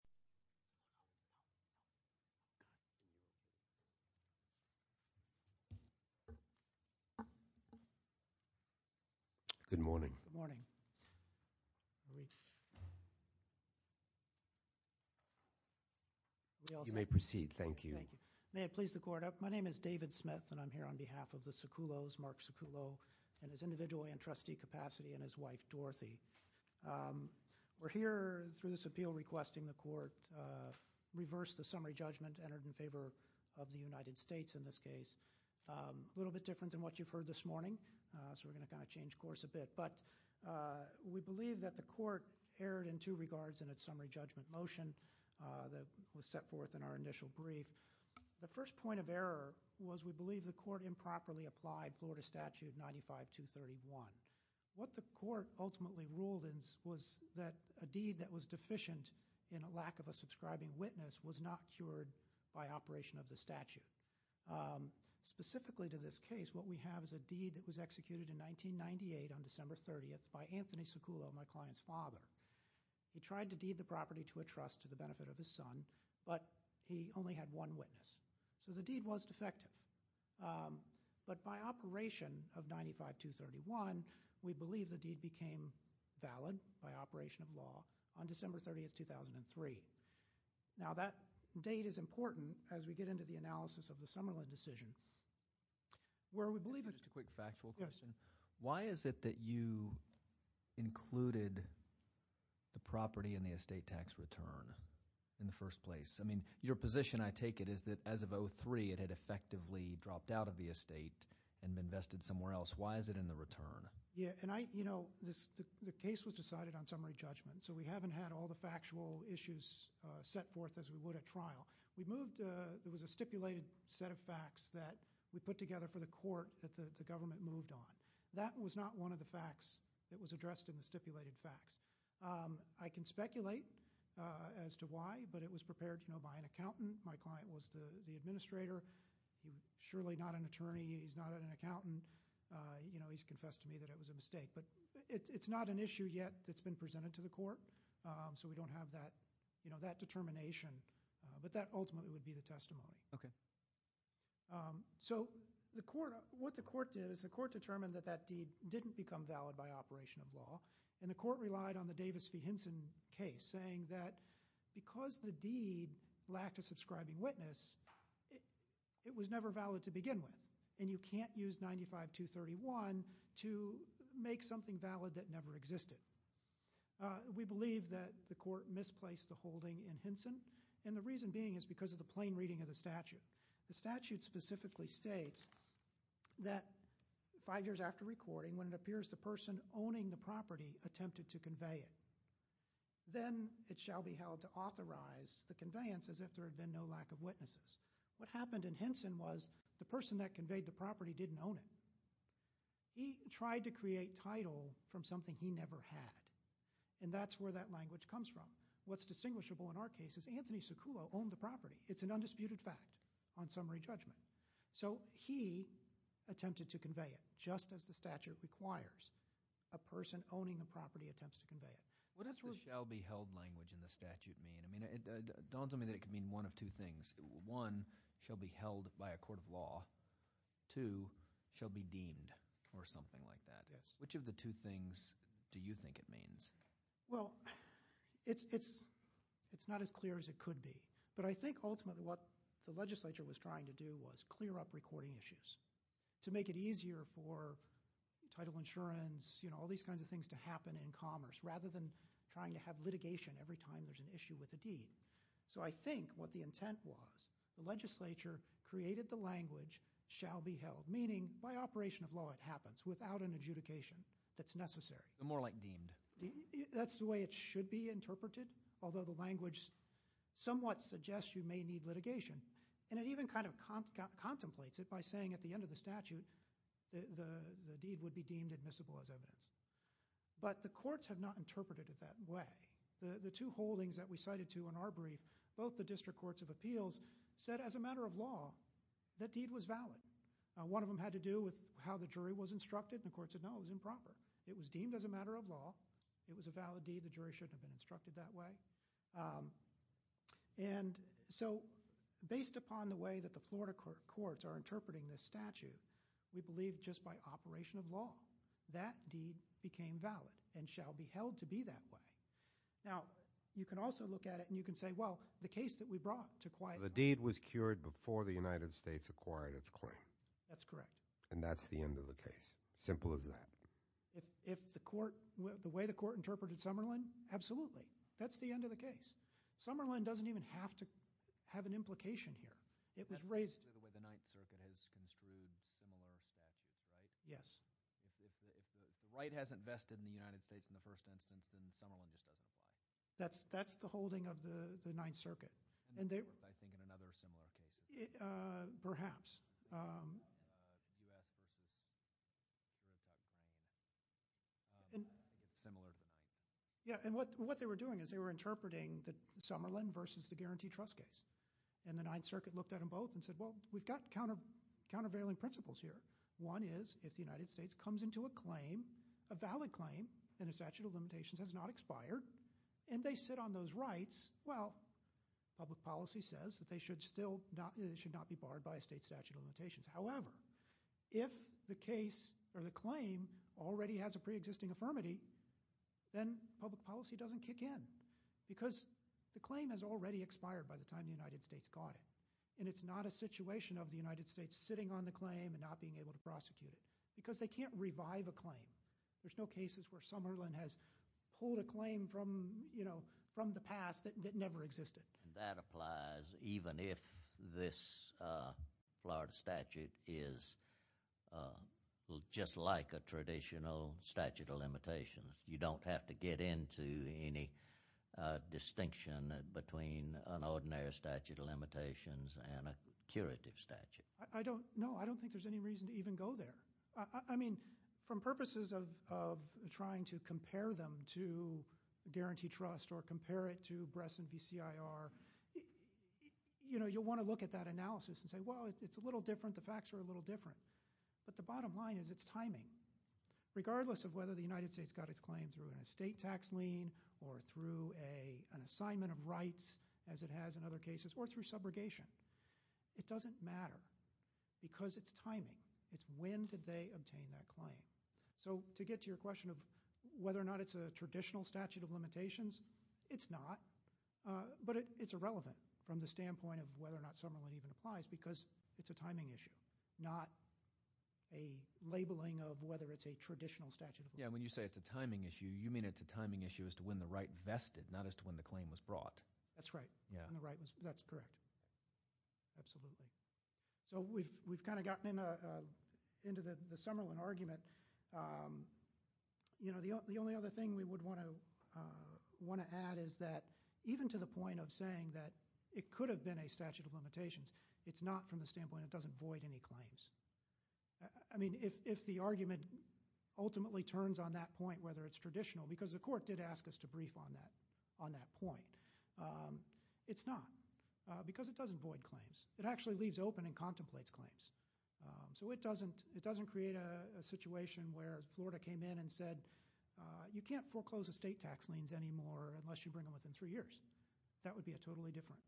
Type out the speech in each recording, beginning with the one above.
Court of Appeals. Good morning. Good morning. You may proceed. Thank you. May it please the Court, my name is David Smith and I'm here on behalf of the Succullos, Mark Succullo, in his individual and trustee capacity, and his wife, Dorothy. We're here through this appeal requesting the Court reverse the summary judgment entered in favor of the United States in this case. A little bit different than what you've heard this morning, so we're going to kind of change course a bit, but we believe that the Court erred in two regards in its summary judgment motion that was set forth in our initial brief. The first point of error was we believe the Court improperly applied Florida Statute 95-231. What the Court ultimately ruled was that a deed that was deficient in a lack of a subscribing witness was not cured by operation of the statute. Specifically to this case, what we have is a deed that was executed in 1998 on December 30th by Anthony Succullo, my client's father. He tried to deed the property to a trust to the benefit of his son, but he only had one witness, so the deed was defective. But by operation of 95-231, we believe the deed became valid by operation of law on December 30th, 2003. Now, that date is important as we get into the analysis of the Summerlin decision, where we believe— Just a quick factual question. Yes. Why is it that you included the property in the estate tax return in the first place? I mean, your position, I take it, is that as of 2003, it had effectively dropped out of the estate and been vested somewhere else. Why is it in the return? Yes, and I—you know, the case was decided on summary judgment, so we haven't had all the factual issues set forth as we would at trial. We moved—there was a stipulated set of facts that we put together for the Court that the government moved on. That was not one of the facts that was addressed in the stipulated facts. I can speculate as to why, but it was prepared, you know, by an accountant. My client was the administrator. He's surely not an attorney. He's not an accountant. You know, he's confessed to me that it was a mistake, but it's not an issue yet that's been presented to the Court, so we don't have that, you know, that determination, but that ultimately would be the testimony. Okay. So, what the Court did is the Court determined that that deed didn't become valid by operation of law, and the Court relied on the Davis v. Hinson case, saying that because the deed lacked a subscribing witness, it was never valid to begin with, and you can't use 95-231 to make something valid that never existed. We believe that the Court misplaced the holding in Hinson, and the reason being is because of the plain reading of the statute. The statute specifically states that five years after recording, when it appears the person owning the property attempted to convey it, then it shall be held to authorize the conveyance as if there had been no lack of witnesses. What happened in Hinson was the person that conveyed the property didn't own it. He tried to create title from something he never had, and that's where that language comes from. What's distinguishable in our case is Anthony Siculo owned the property. It's an undisputed fact on summary judgment. He attempted to convey it, just as the statute requires. A person owning a property attempts to convey it. What does the shall be held language in the statute mean? Don told me that it could mean one of two things. One, shall be held by a court of law. Two, shall be deemed, or something like that. Which of the two things do you think it means? Well, it's not as clear as it could be, but I think ultimately what the legislature was trying to do was clear up recording issues to make it easier for title insurance, you know, all these kinds of things to happen in commerce, rather than trying to have litigation every time there's an issue with a deed. So I think what the intent was, the legislature created the language shall be held, meaning by operation of law it happens without an adjudication that's necessary. More like deemed. That's the way it should be interpreted, although the language somewhat suggests you it even kind of contemplates it by saying at the end of the statute the deed would be deemed admissible as evidence. But the courts have not interpreted it that way. The two holdings that we cited to in our brief, both the district courts of appeals said as a matter of law that deed was valid. One of them had to do with how the jury was instructed. The courts said no, it was improper. It was deemed as a matter of law. It was a valid deed. The jury shouldn't have been instructed that way. And so based upon the way that the Florida courts are interpreting this statute, we believe just by operation of law that deed became valid and shall be held to be that way. Now, you can also look at it and you can say, well, the case that we brought to quiet... The deed was cured before the United States acquired its claim. That's correct. And that's the end of the case. Simple as that. If the court... The way the court interpreted Summerlin, absolutely. That's the end of the case. Summerlin doesn't even have to have an implication here. It was raised... The way the Ninth Circuit has construed similar statutes, right? Yes. If the right hasn't vested in the United States in the first instance, then Summerlin just doesn't apply. That's the holding of the Ninth Circuit. I think in another similar case. Perhaps. The U.S. versus... It's similar to the Ninth. Yeah. And what they were doing is they were interpreting the Summerlin versus the guarantee trust case. And the Ninth Circuit looked at them both and said, well, we've got countervailing principles here. One is if the United States comes into a claim, a valid claim, and a statute of limitations has not expired, and they sit on those rights, well, public policy says that they should still not... However, if the case or the claim already has a preexisting affirmity, then public policy doesn't kick in. Because the claim has already expired by the time the United States got it. And it's not a situation of the United States sitting on the claim and not being able to prosecute it. Because they can't revive a claim. There's no cases where Summerlin has pulled a claim from the past that never existed. That applies even if this Florida statute is just like a traditional statute of limitations. You don't have to get into any distinction between an ordinary statute of limitations and a curative statute. I don't know. I don't think there's any reason to even go there. I mean, from purposes of trying to compare them to guarantee trust or compare it to Bress and BCIR, you'll want to look at that analysis and say, well, it's a little different. The facts are a little different. But the bottom line is it's timing. Regardless of whether the United States got its claim through an estate tax lien or through an assignment of rights, as it has in other cases, or through subrogation, it doesn't matter. Because it's timing. It's when did they obtain that claim. So to get to your question of whether or not it's a traditional statute of limitations, it's not. But it's irrelevant from the standpoint of whether or not Summerlin even applies because it's a timing issue, not a labeling of whether it's a traditional statute of limitations. Yeah, when you say it's a timing issue, you mean it's a timing issue as to when the right vested, not as to when the claim was brought. That's right. That's correct. Absolutely. So we've kind of gotten into the Summerlin argument. The only other thing we would want to add is that even to the point of saying that it could have been a statute of limitations, it's not from the standpoint it doesn't void any claims. I mean, if the argument ultimately turns on that point, whether it's traditional, because the court did ask us to brief on that point, it's not because it doesn't void claims. It actually leaves open and contemplates claims. So it doesn't create a situation where Florida came in and said, you can't foreclose estate tax liens anymore unless you bring them within three years. That would be a totally different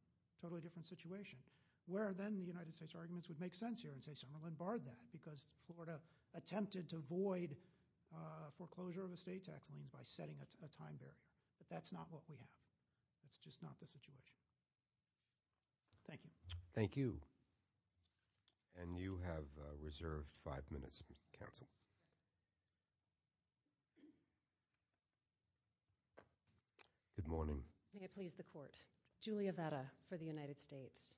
situation, where then the United States arguments would make sense here and say Summerlin barred that because Florida attempted to void foreclosure of estate tax liens by setting a time barrier. But that's not what we have. It's just not the situation. Thank you. Thank you. And you have reserved five minutes, counsel. Good morning. May it please the court. Julia Vetta for the United States.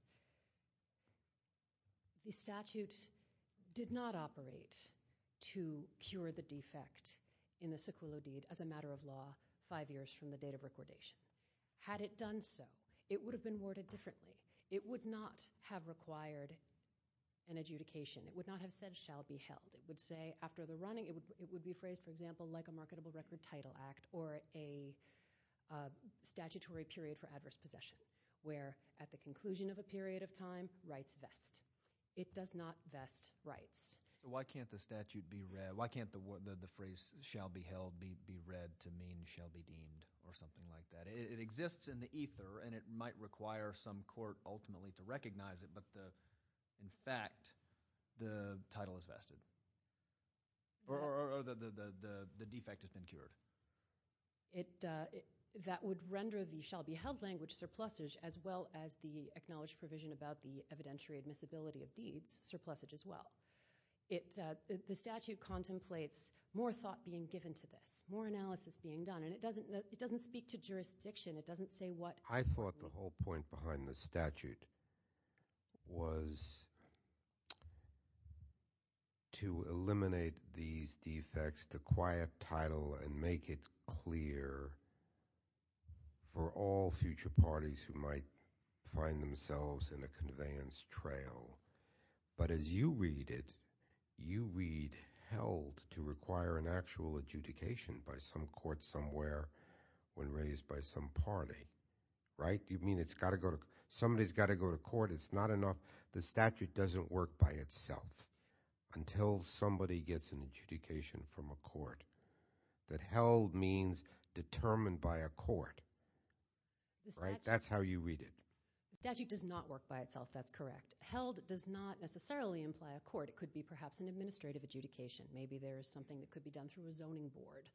The statute did not operate to cure the defect in the Sequillo deed as a matter of law five years from the date of recordation. Had it done so, it would have been worded differently. It would not have required an adjudication. It would not have said shall be held. It would say after the running, it would be phrased, for example, like a marketable record title act or a statutory period for adverse possession, where at the conclusion of a period of time, rights vest. It does not vest rights. Why can't the phrase shall be held be read to mean shall be deemed or something like that? It exists in the ether, and it might require some court ultimately to recognize it. But in fact, the title is vested or the defect has been cured. That would render the shall be held language surplusage as well as the acknowledged provision about the evidentiary admissibility of deeds surplusage as well. The statute contemplates more thought being given to this, more analysis being done. And it doesn't speak to jurisdiction. It doesn't say what – I thought the whole point behind the statute was to eliminate these defects, the quiet title, and make it clear for all future parties who might find themselves in a conveyance trail. But as you read it, you read held to require an actual adjudication by some court somewhere when raised by some party, right? You mean it's got to go – somebody's got to go to court. It's not enough – the statute doesn't work by itself until somebody gets an adjudication from a court. That held means determined by a court, right? That's how you read it. The statute does not work by itself. That's correct. Held does not necessarily imply a court. It could be perhaps an administrative adjudication. Maybe there is something that could be done through a zoning board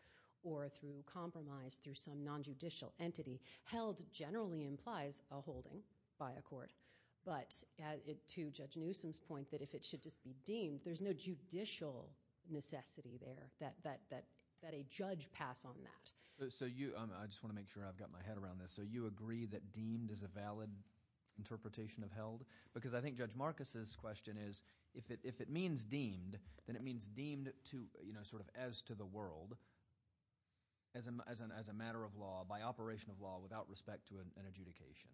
or through compromise through some nonjudicial entity. Held generally implies a holding by a court. But to Judge Newsom's point that if it should just be deemed, there's no judicial necessity there that a judge pass on that. So you – I just want to make sure I've got my head around this. So you agree that deemed is a valid interpretation of held? Because I think Judge Marcus's question is if it means deemed, then it means deemed to – sort of as to the world as a matter of law, by operation of law, without respect to an adjudication.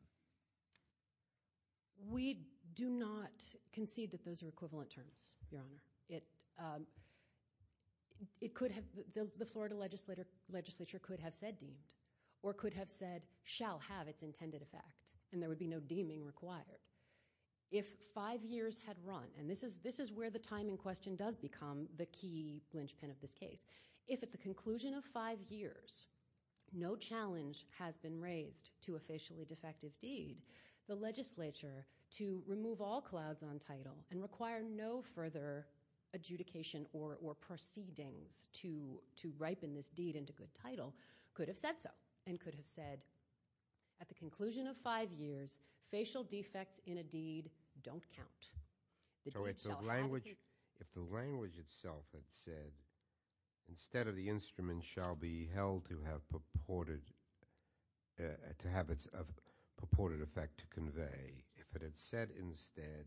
We do not concede that those are equivalent terms, Your Honor. The Florida legislature could have said deemed or could have said shall have its intended effect, and there would be no deeming required. If five years had run – and this is where the time in question does become the key linchpin of this case. If at the conclusion of five years, no challenge has been raised to a facially defective deed, the legislature to remove all clouds on title and require no further adjudication or proceedings to ripen this deed into good title could have said so and could have said at the conclusion of five years, facial defects in a deed don't count. So if the language itself had said instead of the instrument shall be held to have purported – to have its purported effect to convey, if it had said instead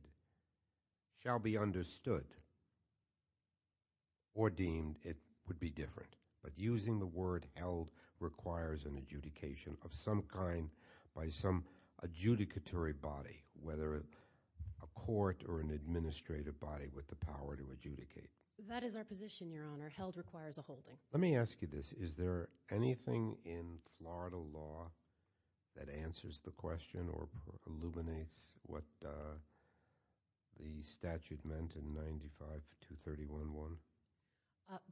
shall be understood or deemed, it would be different. But using the word held requires an adjudication of some kind by some adjudicatory body, whether a court or an administrative body with the power to adjudicate. That is our position, Your Honor. Held requires a holding. Let me ask you this. Is there anything in Florida law that answers the question or illuminates what the statute meant in 95-231-1?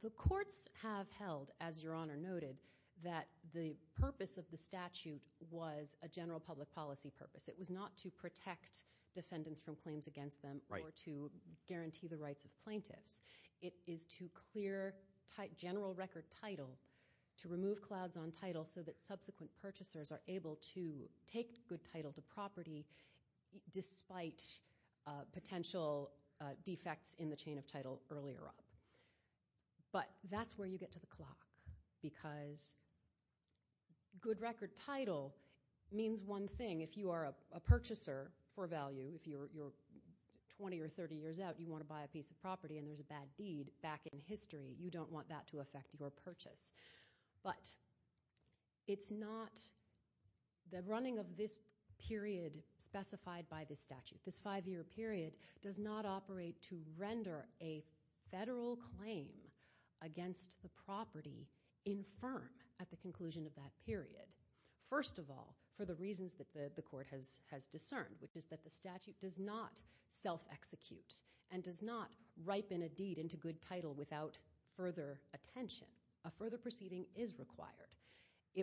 The courts have held, as Your Honor noted, that the purpose of the statute was a general public policy purpose. It was not to protect defendants from claims against them or to guarantee the rights of plaintiffs. It is to clear general record title, to remove clouds on title so that subsequent purchasers are able to take good title to property despite potential defects in the chain of title earlier up. But that's where you get to the clock because good record title means one thing. If you are a purchaser for value, if you're 20 or 30 years out, you want to buy a piece of property and there's a bad deed back in history, you don't want that to affect your purchase. But it's not the running of this period specified by this statute, this five-year period, does not operate to render a federal claim against the property infirm at the conclusion of that period. First of all, for the reasons that the court has discerned, which is that the statute does not self-execute and does not ripen a deed into good title without further attention. A further proceeding is required.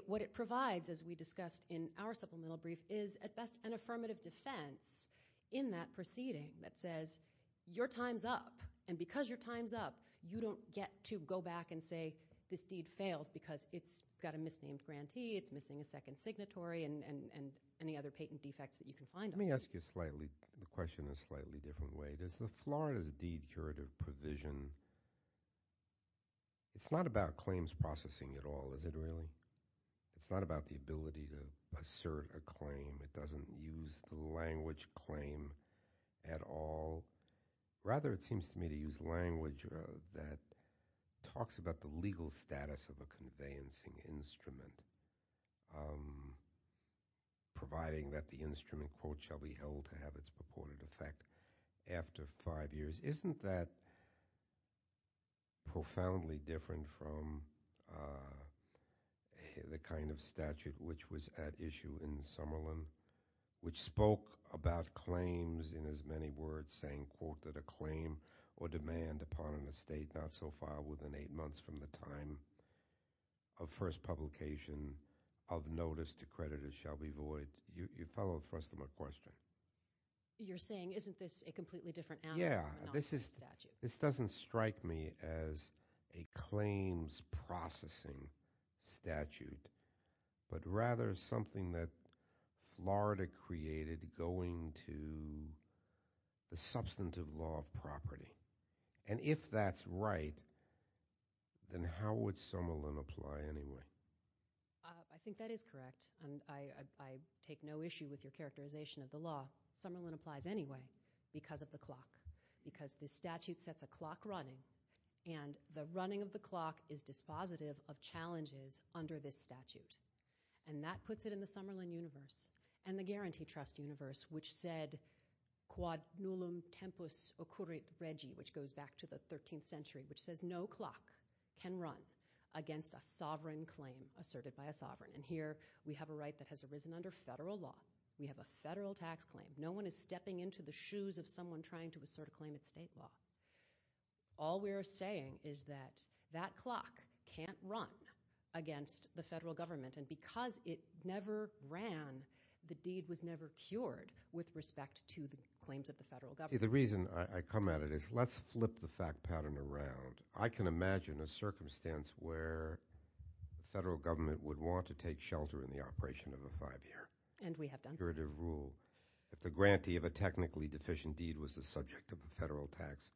What it provides, as we discussed in our supplemental brief, is at best an affirmative defense in that proceeding that says your time's up. And because your time's up, you don't get to go back and say this deed fails because it's got a misnamed grantee, it's missing a second signatory, and any other patent defects that you can find on it. Let me ask you the question in a slightly different way. Does the Florida's deed curative provision, it's not about claims processing at all, is it really? It's not about the ability to assert a claim. It doesn't use the language claim at all. Rather, it seems to me to use language that talks about the legal status of a conveyancing instrument, providing that the instrument, quote, shall be held to have its purported effect after five years. Isn't that profoundly different from the kind of statute which was at issue in Summerlin which spoke about claims in as many words saying, quote, that a claim or demand upon an estate not so far within eight months from the time of first publication of notice to creditors shall be void? You follow the thrust of my question? You're saying isn't this a completely different animal from a non-state statute? Yeah. This doesn't strike me as a claims processing statute, but rather something that Florida created going to the substantive law of property. And if that's right, then how would Summerlin apply anyway? I think that is correct, and I take no issue with your characterization of the law. Summerlin applies anyway because of the clock, because the statute sets a clock running, and the running of the clock is dispositive of challenges under this statute. And that puts it in the Summerlin universe and the Guarantee Trust universe, which said, quod nullum tempus occurrit regi, which goes back to the 13th century, which says no clock can run against a sovereign claim asserted by a sovereign. And here we have a right that has arisen under federal law. We have a federal tax claim. No one is stepping into the shoes of someone trying to assert a claim in state law. All we are saying is that that clock can't run against the federal government, and because it never ran, the deed was never cured with respect to the claims of the federal government. See, the reason I come at it is let's flip the fact pattern around. I can imagine a circumstance where the federal government would want to take shelter in the operation of a five-year jurative rule. And we have done so. If the grantee of a technically deficient deed was the subject of a federal tax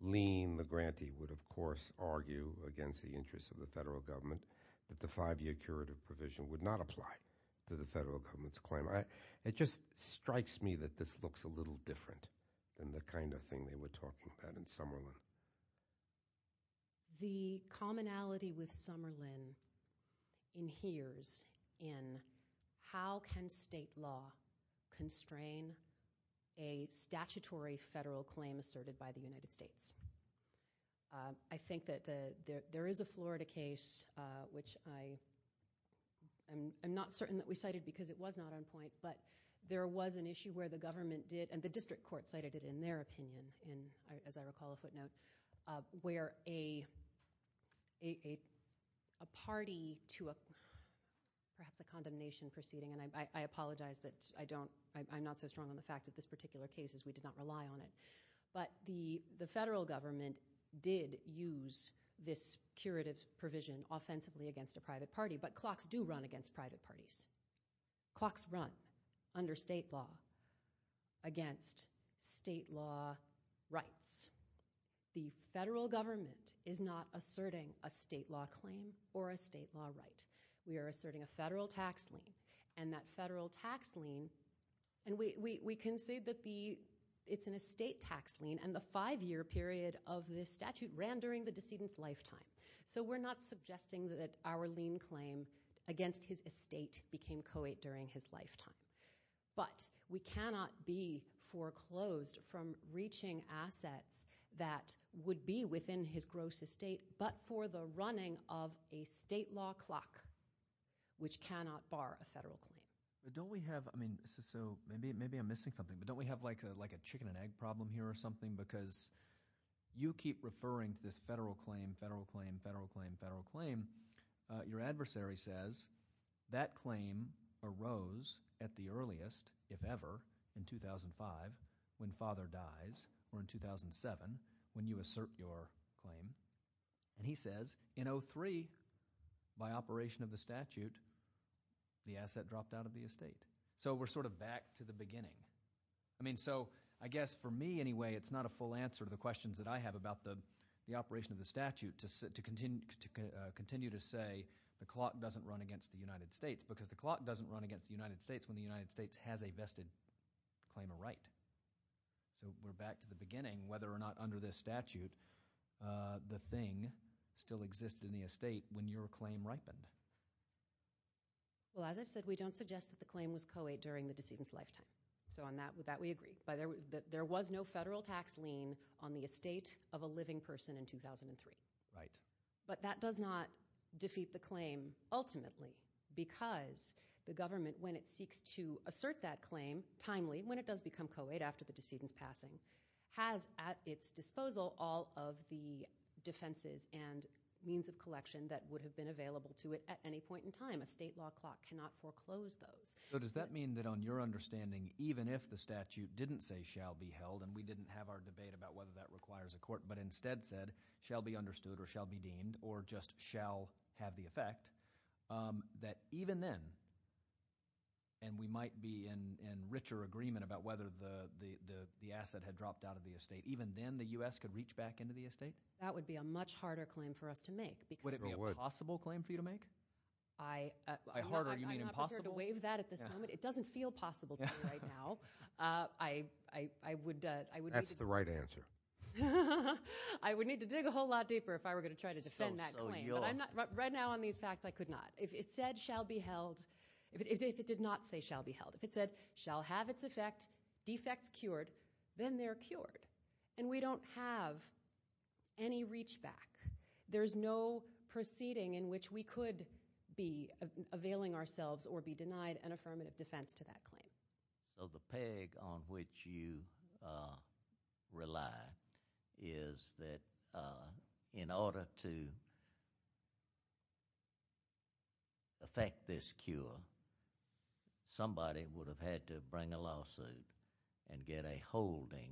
lien, the grantee would, of course, argue against the interests of the federal government that the five-year curative provision would not apply to the federal government's claim. It just strikes me that this looks a little different than the kind of thing they were talking about in Summerlin. The commonality with Summerlin inheres in how can state law constrain a statutory federal claim asserted by the United States. I think that there is a Florida case, which I'm not certain that we cited because it was not on point, but there was an issue where the government did, and the district court cited it in their opinion, as I recall a footnote, where a party to perhaps a condemnation proceeding, and I apologize that I'm not so strong on the fact that this particular case is we did not rely on it, but the federal government did use this curative provision offensively against a private party, but clocks do run against private parties. Clocks run under state law against state law rights. The federal government is not asserting a state law claim or a state law right. We are asserting a federal tax lien, and that federal tax lien, and we can say that it's an estate tax lien, and the five-year period of the statute ran during the decedent's lifetime, so we're not suggesting that our lien claim against his estate became co-late during his lifetime, but we cannot be foreclosed from reaching assets that would be within his gross estate, but for the running of a state law clock, which cannot bar a federal claim. So maybe I'm missing something, but don't we have like a chicken-and-egg problem here or something? Because you keep referring to this federal claim, federal claim, federal claim, federal claim. Your adversary says that claim arose at the earliest, if ever, in 2005 when father dies or in 2007 when you assert your claim, and he says in 2003, by operation of the statute, the asset dropped out of the estate. So we're sort of back to the beginning. I mean so I guess for me anyway, it's not a full answer to the questions that I have about the operation of the statute to continue to say the clock doesn't run against the United States because the clock doesn't run against the United States when the United States has a vested claim of right. So we're back to the beginning, whether or not under this statute the thing still existed in the estate when your claim ripened. Well, as I've said, we don't suggest that the claim was co-late during the decedent's lifetime. So on that, with that we agree. There was no federal tax lien on the estate of a living person in 2003. Right. But that does not defeat the claim ultimately because the government, when it seeks to assert that claim timely, when it does become co-late after the decedent's passing, has at its disposal all of the defenses and means of collection that would have been available to it at any point in time. A state law clock cannot foreclose those. So does that mean that on your understanding, even if the statute didn't say shall be held, and we didn't have our debate about whether that requires a court, but instead said shall be understood or shall be deemed or just shall have the effect, that even then, and we might be in richer agreement about whether the asset had dropped out of the estate, even then the U.S. could reach back into the estate? That would be a much harder claim for us to make. Would it be a possible claim for you to make? I'm not prepared to waive that at this moment. It doesn't feel possible to me right now. That's the right answer. I would need to dig a whole lot deeper if I were going to try to defend that claim. Right now on these facts, I could not. If it said shall be held, if it did not say shall be held, if it said shall have its effect, defects cured, then they're cured, and we don't have any reach back. There's no proceeding in which we could be availing ourselves or be denied an affirmative defense to that claim. The peg on which you rely is that in order to effect this cure, somebody would have had to bring a lawsuit and get a holding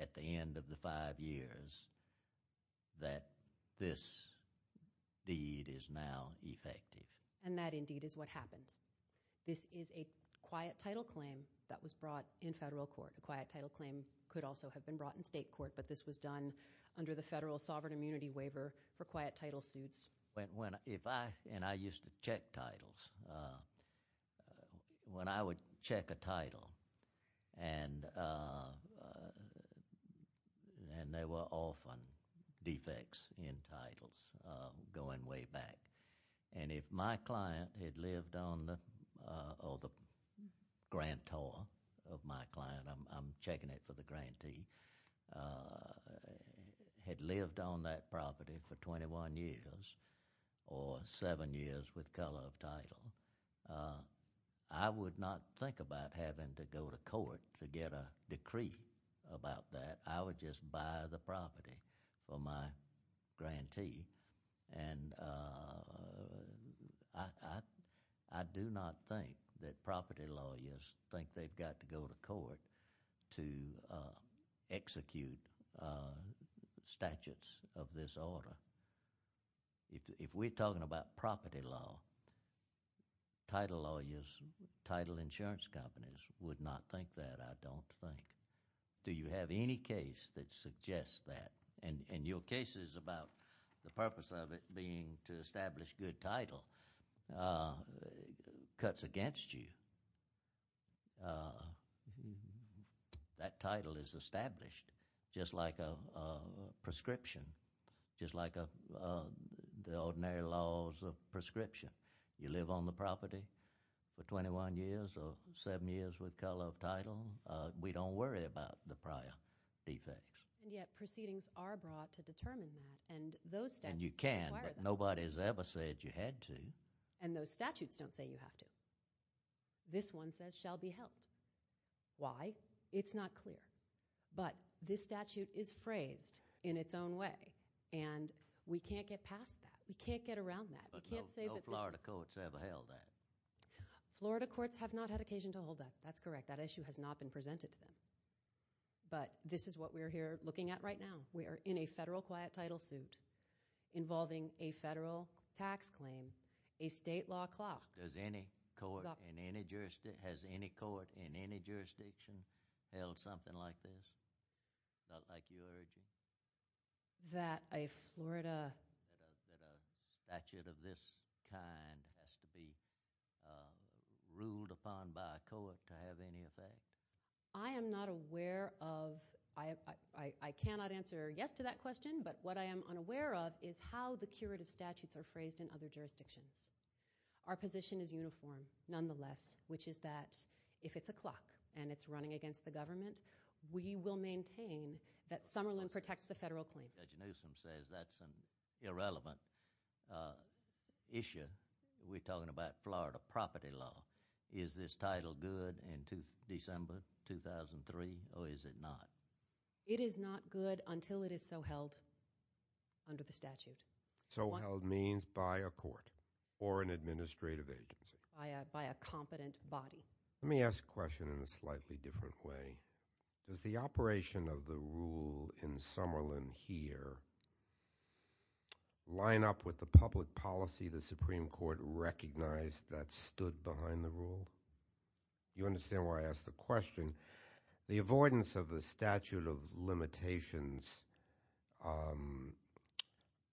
at the end of the five years that this deed is now effective. And that indeed is what happened. This is a quiet title claim that was brought in federal court. A quiet title claim could also have been brought in state court, but this was done under the federal sovereign immunity waiver for quiet title suits. When I used to check titles, when I would check a title, and there were often defects in titles going way back. And if my client had lived on the, or the grantor of my client, I'm checking it for the grantee, had lived on that property for 21 years or seven years with color of title, I would not think about having to go to court to get a decree about that. I would just buy the property for my grantee. And I do not think that property lawyers think they've got to go to court to execute statutes of this order. If we're talking about property law, title lawyers, title insurance companies would not think that, I don't think. Do you have any case that suggests that? And your case is about the purpose of it being to establish good title cuts against you. That title is established just like a prescription, just like the ordinary laws of prescription. You live on the property for 21 years or seven years with color of title, we don't worry about the prior defects. And yet proceedings are brought to determine that, and those statutes require that. And you can, but nobody's ever said you had to. And those statutes don't say you have to. This one says shall be held. Why? It's not clear. But this statute is phrased in its own way, and we can't get past that. We can't get around that. But no Florida courts ever held that. Florida courts have not had occasion to hold that. That's correct. That issue has not been presented to them. But this is what we're here looking at right now. We are in a federal quiet title suit involving a federal tax claim, a state law clock. Has any court in any jurisdiction held something like this? Not like you're urging? That a Florida... That a statute of this kind has to be ruled upon by a court to have any effect? I am not aware of... I cannot answer yes to that question, but what I am unaware of is how the curative statutes are phrased in other jurisdictions. Our position is uniform, nonetheless, which is that if it's a clock and it's running against the government, we will maintain that Summerlin protects the federal claim. Judge Newsom says that's an irrelevant issue. We're talking about Florida property law. Is this title good in December 2003, or is it not? It is not good until it is so held under the statute. So held means by a court or an administrative agency? By a competent body. Let me ask the question in a slightly different way. Does the operation of the rule in Summerlin here line up with the public policy the Supreme Court recognized that stood behind the rule? You understand why I ask the question? The avoidance of the statute of limitations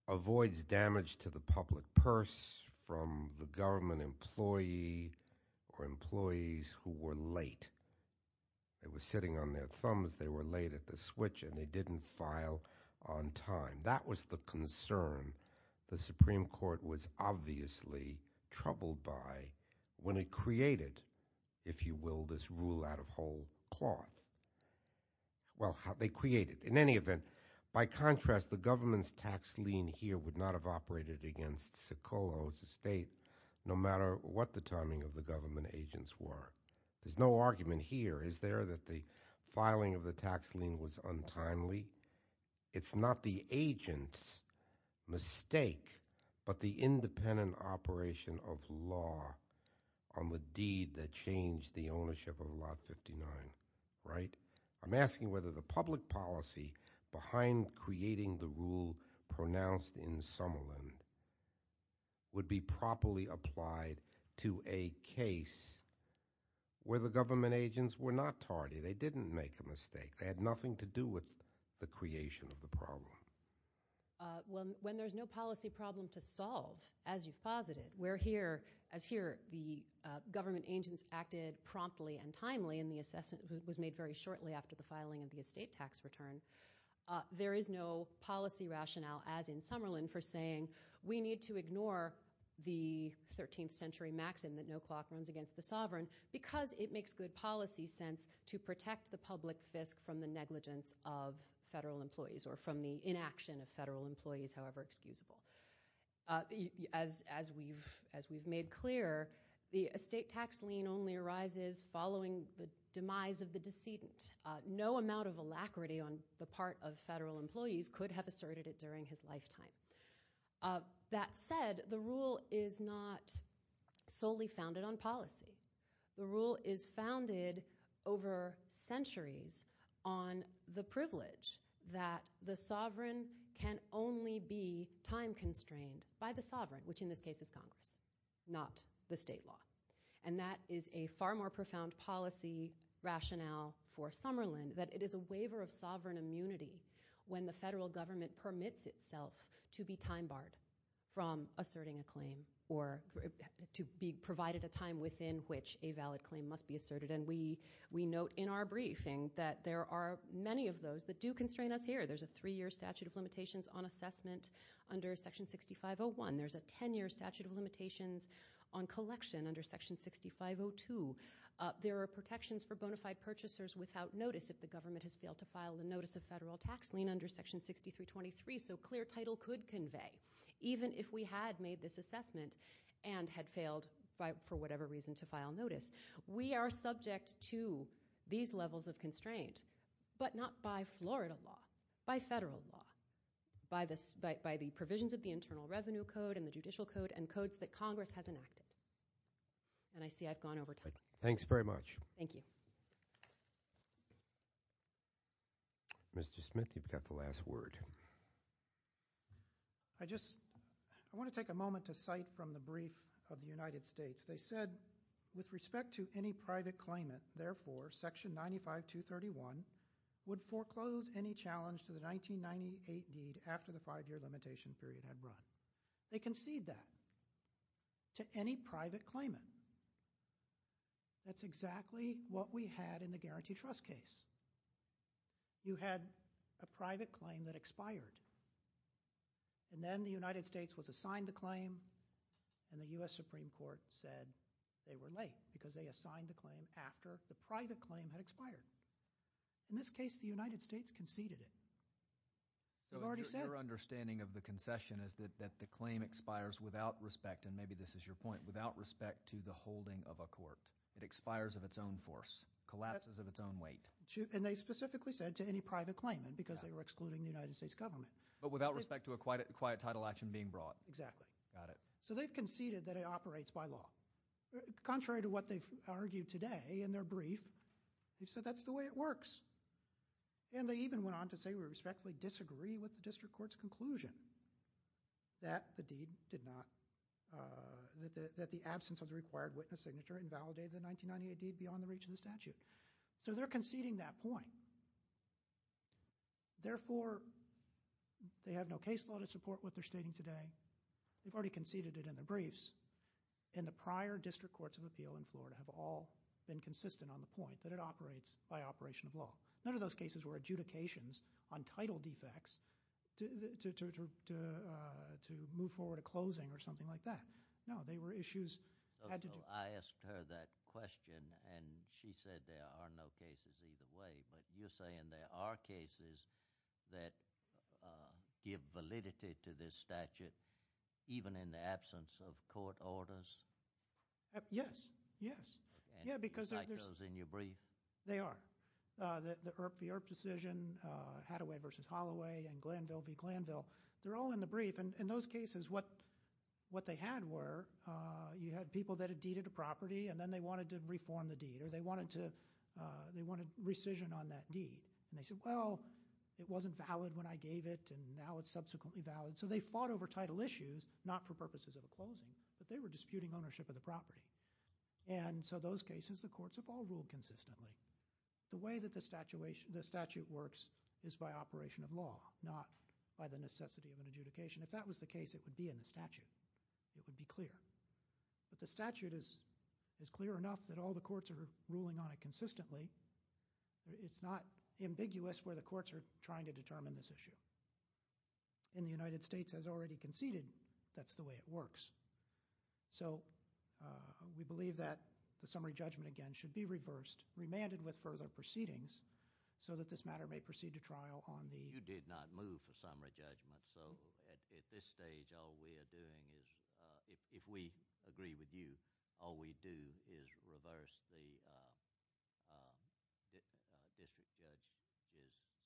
avoids damage to the public purse from the government employee or employees who were late. They were sitting on their thumbs, they were late at the switch, and they didn't file on time. That was the concern the Supreme Court was obviously troubled by when it created, if you will, this rule out of whole cloth. Well, they created it. In any event, by contrast, the government's tax lien here would not have operated against Socolow's estate no matter what the timing of the government agents were. There's no argument here. Is there that the filing of the tax lien was untimely? It's not the agent's mistake but the independent operation of law on the deed that changed the ownership of Lot 59, right? I'm asking whether the public policy behind creating the rule pronounced in Summerlin would be properly applied to a case where the government agents were not tardy. They didn't make a mistake. They had nothing to do with the creation of the problem. When there's no policy problem to solve, as you've posited, as here the government agents acted promptly and timely and the assessment was made very shortly after the filing of the estate tax return, there is no policy rationale, as in Summerlin, for saying, we need to ignore the 13th century maxim that no clock runs against the sovereign because it makes good policy sense to protect the public fisc from the negligence of federal employees or from the inaction of federal employees, however excusable. As we've made clear, the estate tax lien only arises following the demise of the decedent. No amount of alacrity on the part of federal employees could have asserted it during his lifetime. That said, the rule is not solely founded on policy. The rule is founded over centuries on the privilege that the sovereign can only be time-constrained by the sovereign, which in this case is Congress, not the state law. And that is a far more profound policy rationale for Summerlin that it is a waiver of sovereign immunity when the federal government permits itself to be time-barred from asserting a claim or to be provided a time within which a valid claim must be asserted. And we note in our briefing that there are many of those that do constrain us here. There's a three-year statute of limitations on assessment under Section 6501. There's a 10-year statute of limitations on collection under Section 6502. There are protections for bona fide purchasers without notice if the government has failed to file a notice of federal tax lien under Section 6323, so clear title could convey. Even if we had made this assessment and had failed for whatever reason to file notice, we are subject to these levels of constraint, but not by Florida law, by federal law, by the provisions of the Internal Revenue Code and the Judicial Code and codes that Congress has enacted. And I see I've gone over time. All right. Thanks very much. Thank you. Mr. Smith, you've got the last word. I just want to take a moment to cite from the brief of the United States. They said, with respect to any private claimant, therefore Section 95231 would foreclose any challenge to the 1998 deed after the five-year limitation period had run. They concede that to any private claimant. That's exactly what we had in the guarantee trust case. You had a private claim that expired, and then the United States was assigned the claim, and the U.S. Supreme Court said they were late because they assigned the claim after the private claim had expired. In this case, the United States conceded it. Your understanding of the concession is that the claim expires without respect, and maybe this is your point, without respect to the holding of a court. It expires of its own force, collapses of its own weight. And they specifically said to any private claimant because they were excluding the United States government. But without respect to a quiet title action being brought. Exactly. Got it. So they've conceded that it operates by law. Contrary to what they've argued today in their brief, they've said that's the way it works. And they even went on to say we respectfully disagree with the district court's conclusion that the deed did not, that the absence of the required witness signature invalidated the 1998 deed beyond the reach of the statute. So they're conceding that point. Therefore, they have no case law to support what they're stating today. They've already conceded it in their briefs, and the prior district courts of appeal in Florida have all been consistent on the point that it operates by operation of law. None of those cases were adjudications on title defects to move forward to closing or something like that. No, they were issues. I asked her that question, and she said there are no cases either way. But you're saying there are cases that give validity to this statute even in the absence of court orders? Yes, yes. And you cite those in your brief? They are. The Earp decision, Hathaway v. Holloway, and Glanville v. Glanville, they're all in the brief. And in those cases, what they had were you had people that had deeded a property, and then they wanted to reform the deed, or they wanted rescission on that deed. And they said, well, it wasn't valid when I gave it, and now it's subsequently valid. So they fought over title issues, not for purposes of a closing, but they were disputing ownership of the property. And so those cases, the courts have all ruled consistently. The way that the statute works is by operation of law, not by the necessity of an adjudication. If that was the case, it would be in the statute. It would be clear. But the statute is clear enough that all the courts are ruling on it consistently. It's not ambiguous where the courts are trying to determine this issue. And the United States has already conceded that's the way it works. So we believe that the summary judgment again should be reversed, remanded with further proceedings, so that this matter may proceed to trial on the... You did not move for summary judgment. So at this stage, all we are doing is, if we agree with you, all we do is reverse the district judge's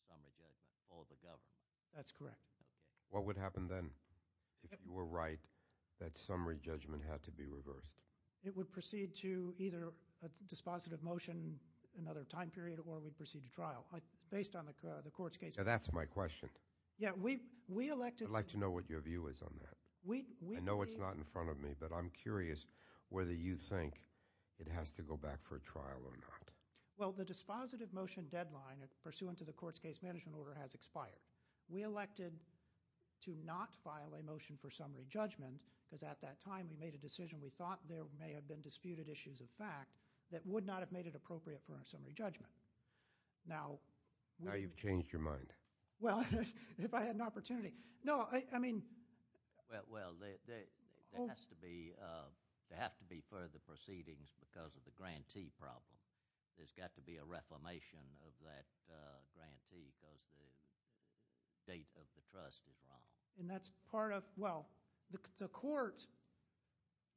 summary judgment for the government. That's correct. What would happen then if you were right that summary judgment had to be reversed? It would proceed to either a dispositive motion, another time period, or we'd proceed to trial, based on the court's case... Now, that's my question. Yeah, we elected... I'd like to know what your view is on that. I know it's not in front of me, but I'm curious whether you think it has to go back for a trial or not. Well, the dispositive motion deadline pursuant to the court's case management order has expired. We elected to not file a motion for summary judgment because at that time we made a decision we thought there may have been disputed issues of fact that would not have made it appropriate for our summary judgment. Now... Now you've changed your mind. Well, if I had an opportunity... No, I mean... Well, there has to be further proceedings because of the grantee problem. There's got to be a reformation of that grantee because the state of the trust is wrong. And that's part of... Well, the court...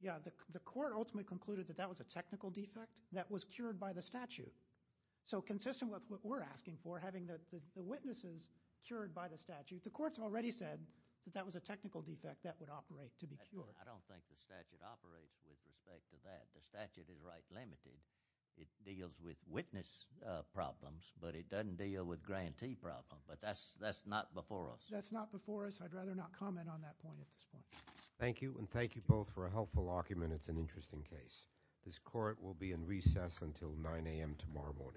Yeah, the court ultimately concluded that that was a technical defect that was cured by the statute. So consistent with what we're asking for, having the witnesses cured by the statute, the courts have already said that that was a technical defect that would operate to be cured. I don't think the statute operates with respect to that. The statute is right limited. It deals with witness problems, but it doesn't deal with grantee problems. But that's not before us. That's not before us. I'd rather not comment on that point at this point. Thank you, and thank you both for a helpful argument. It's an interesting case. This court will be in recess until 9 a.m. tomorrow morning.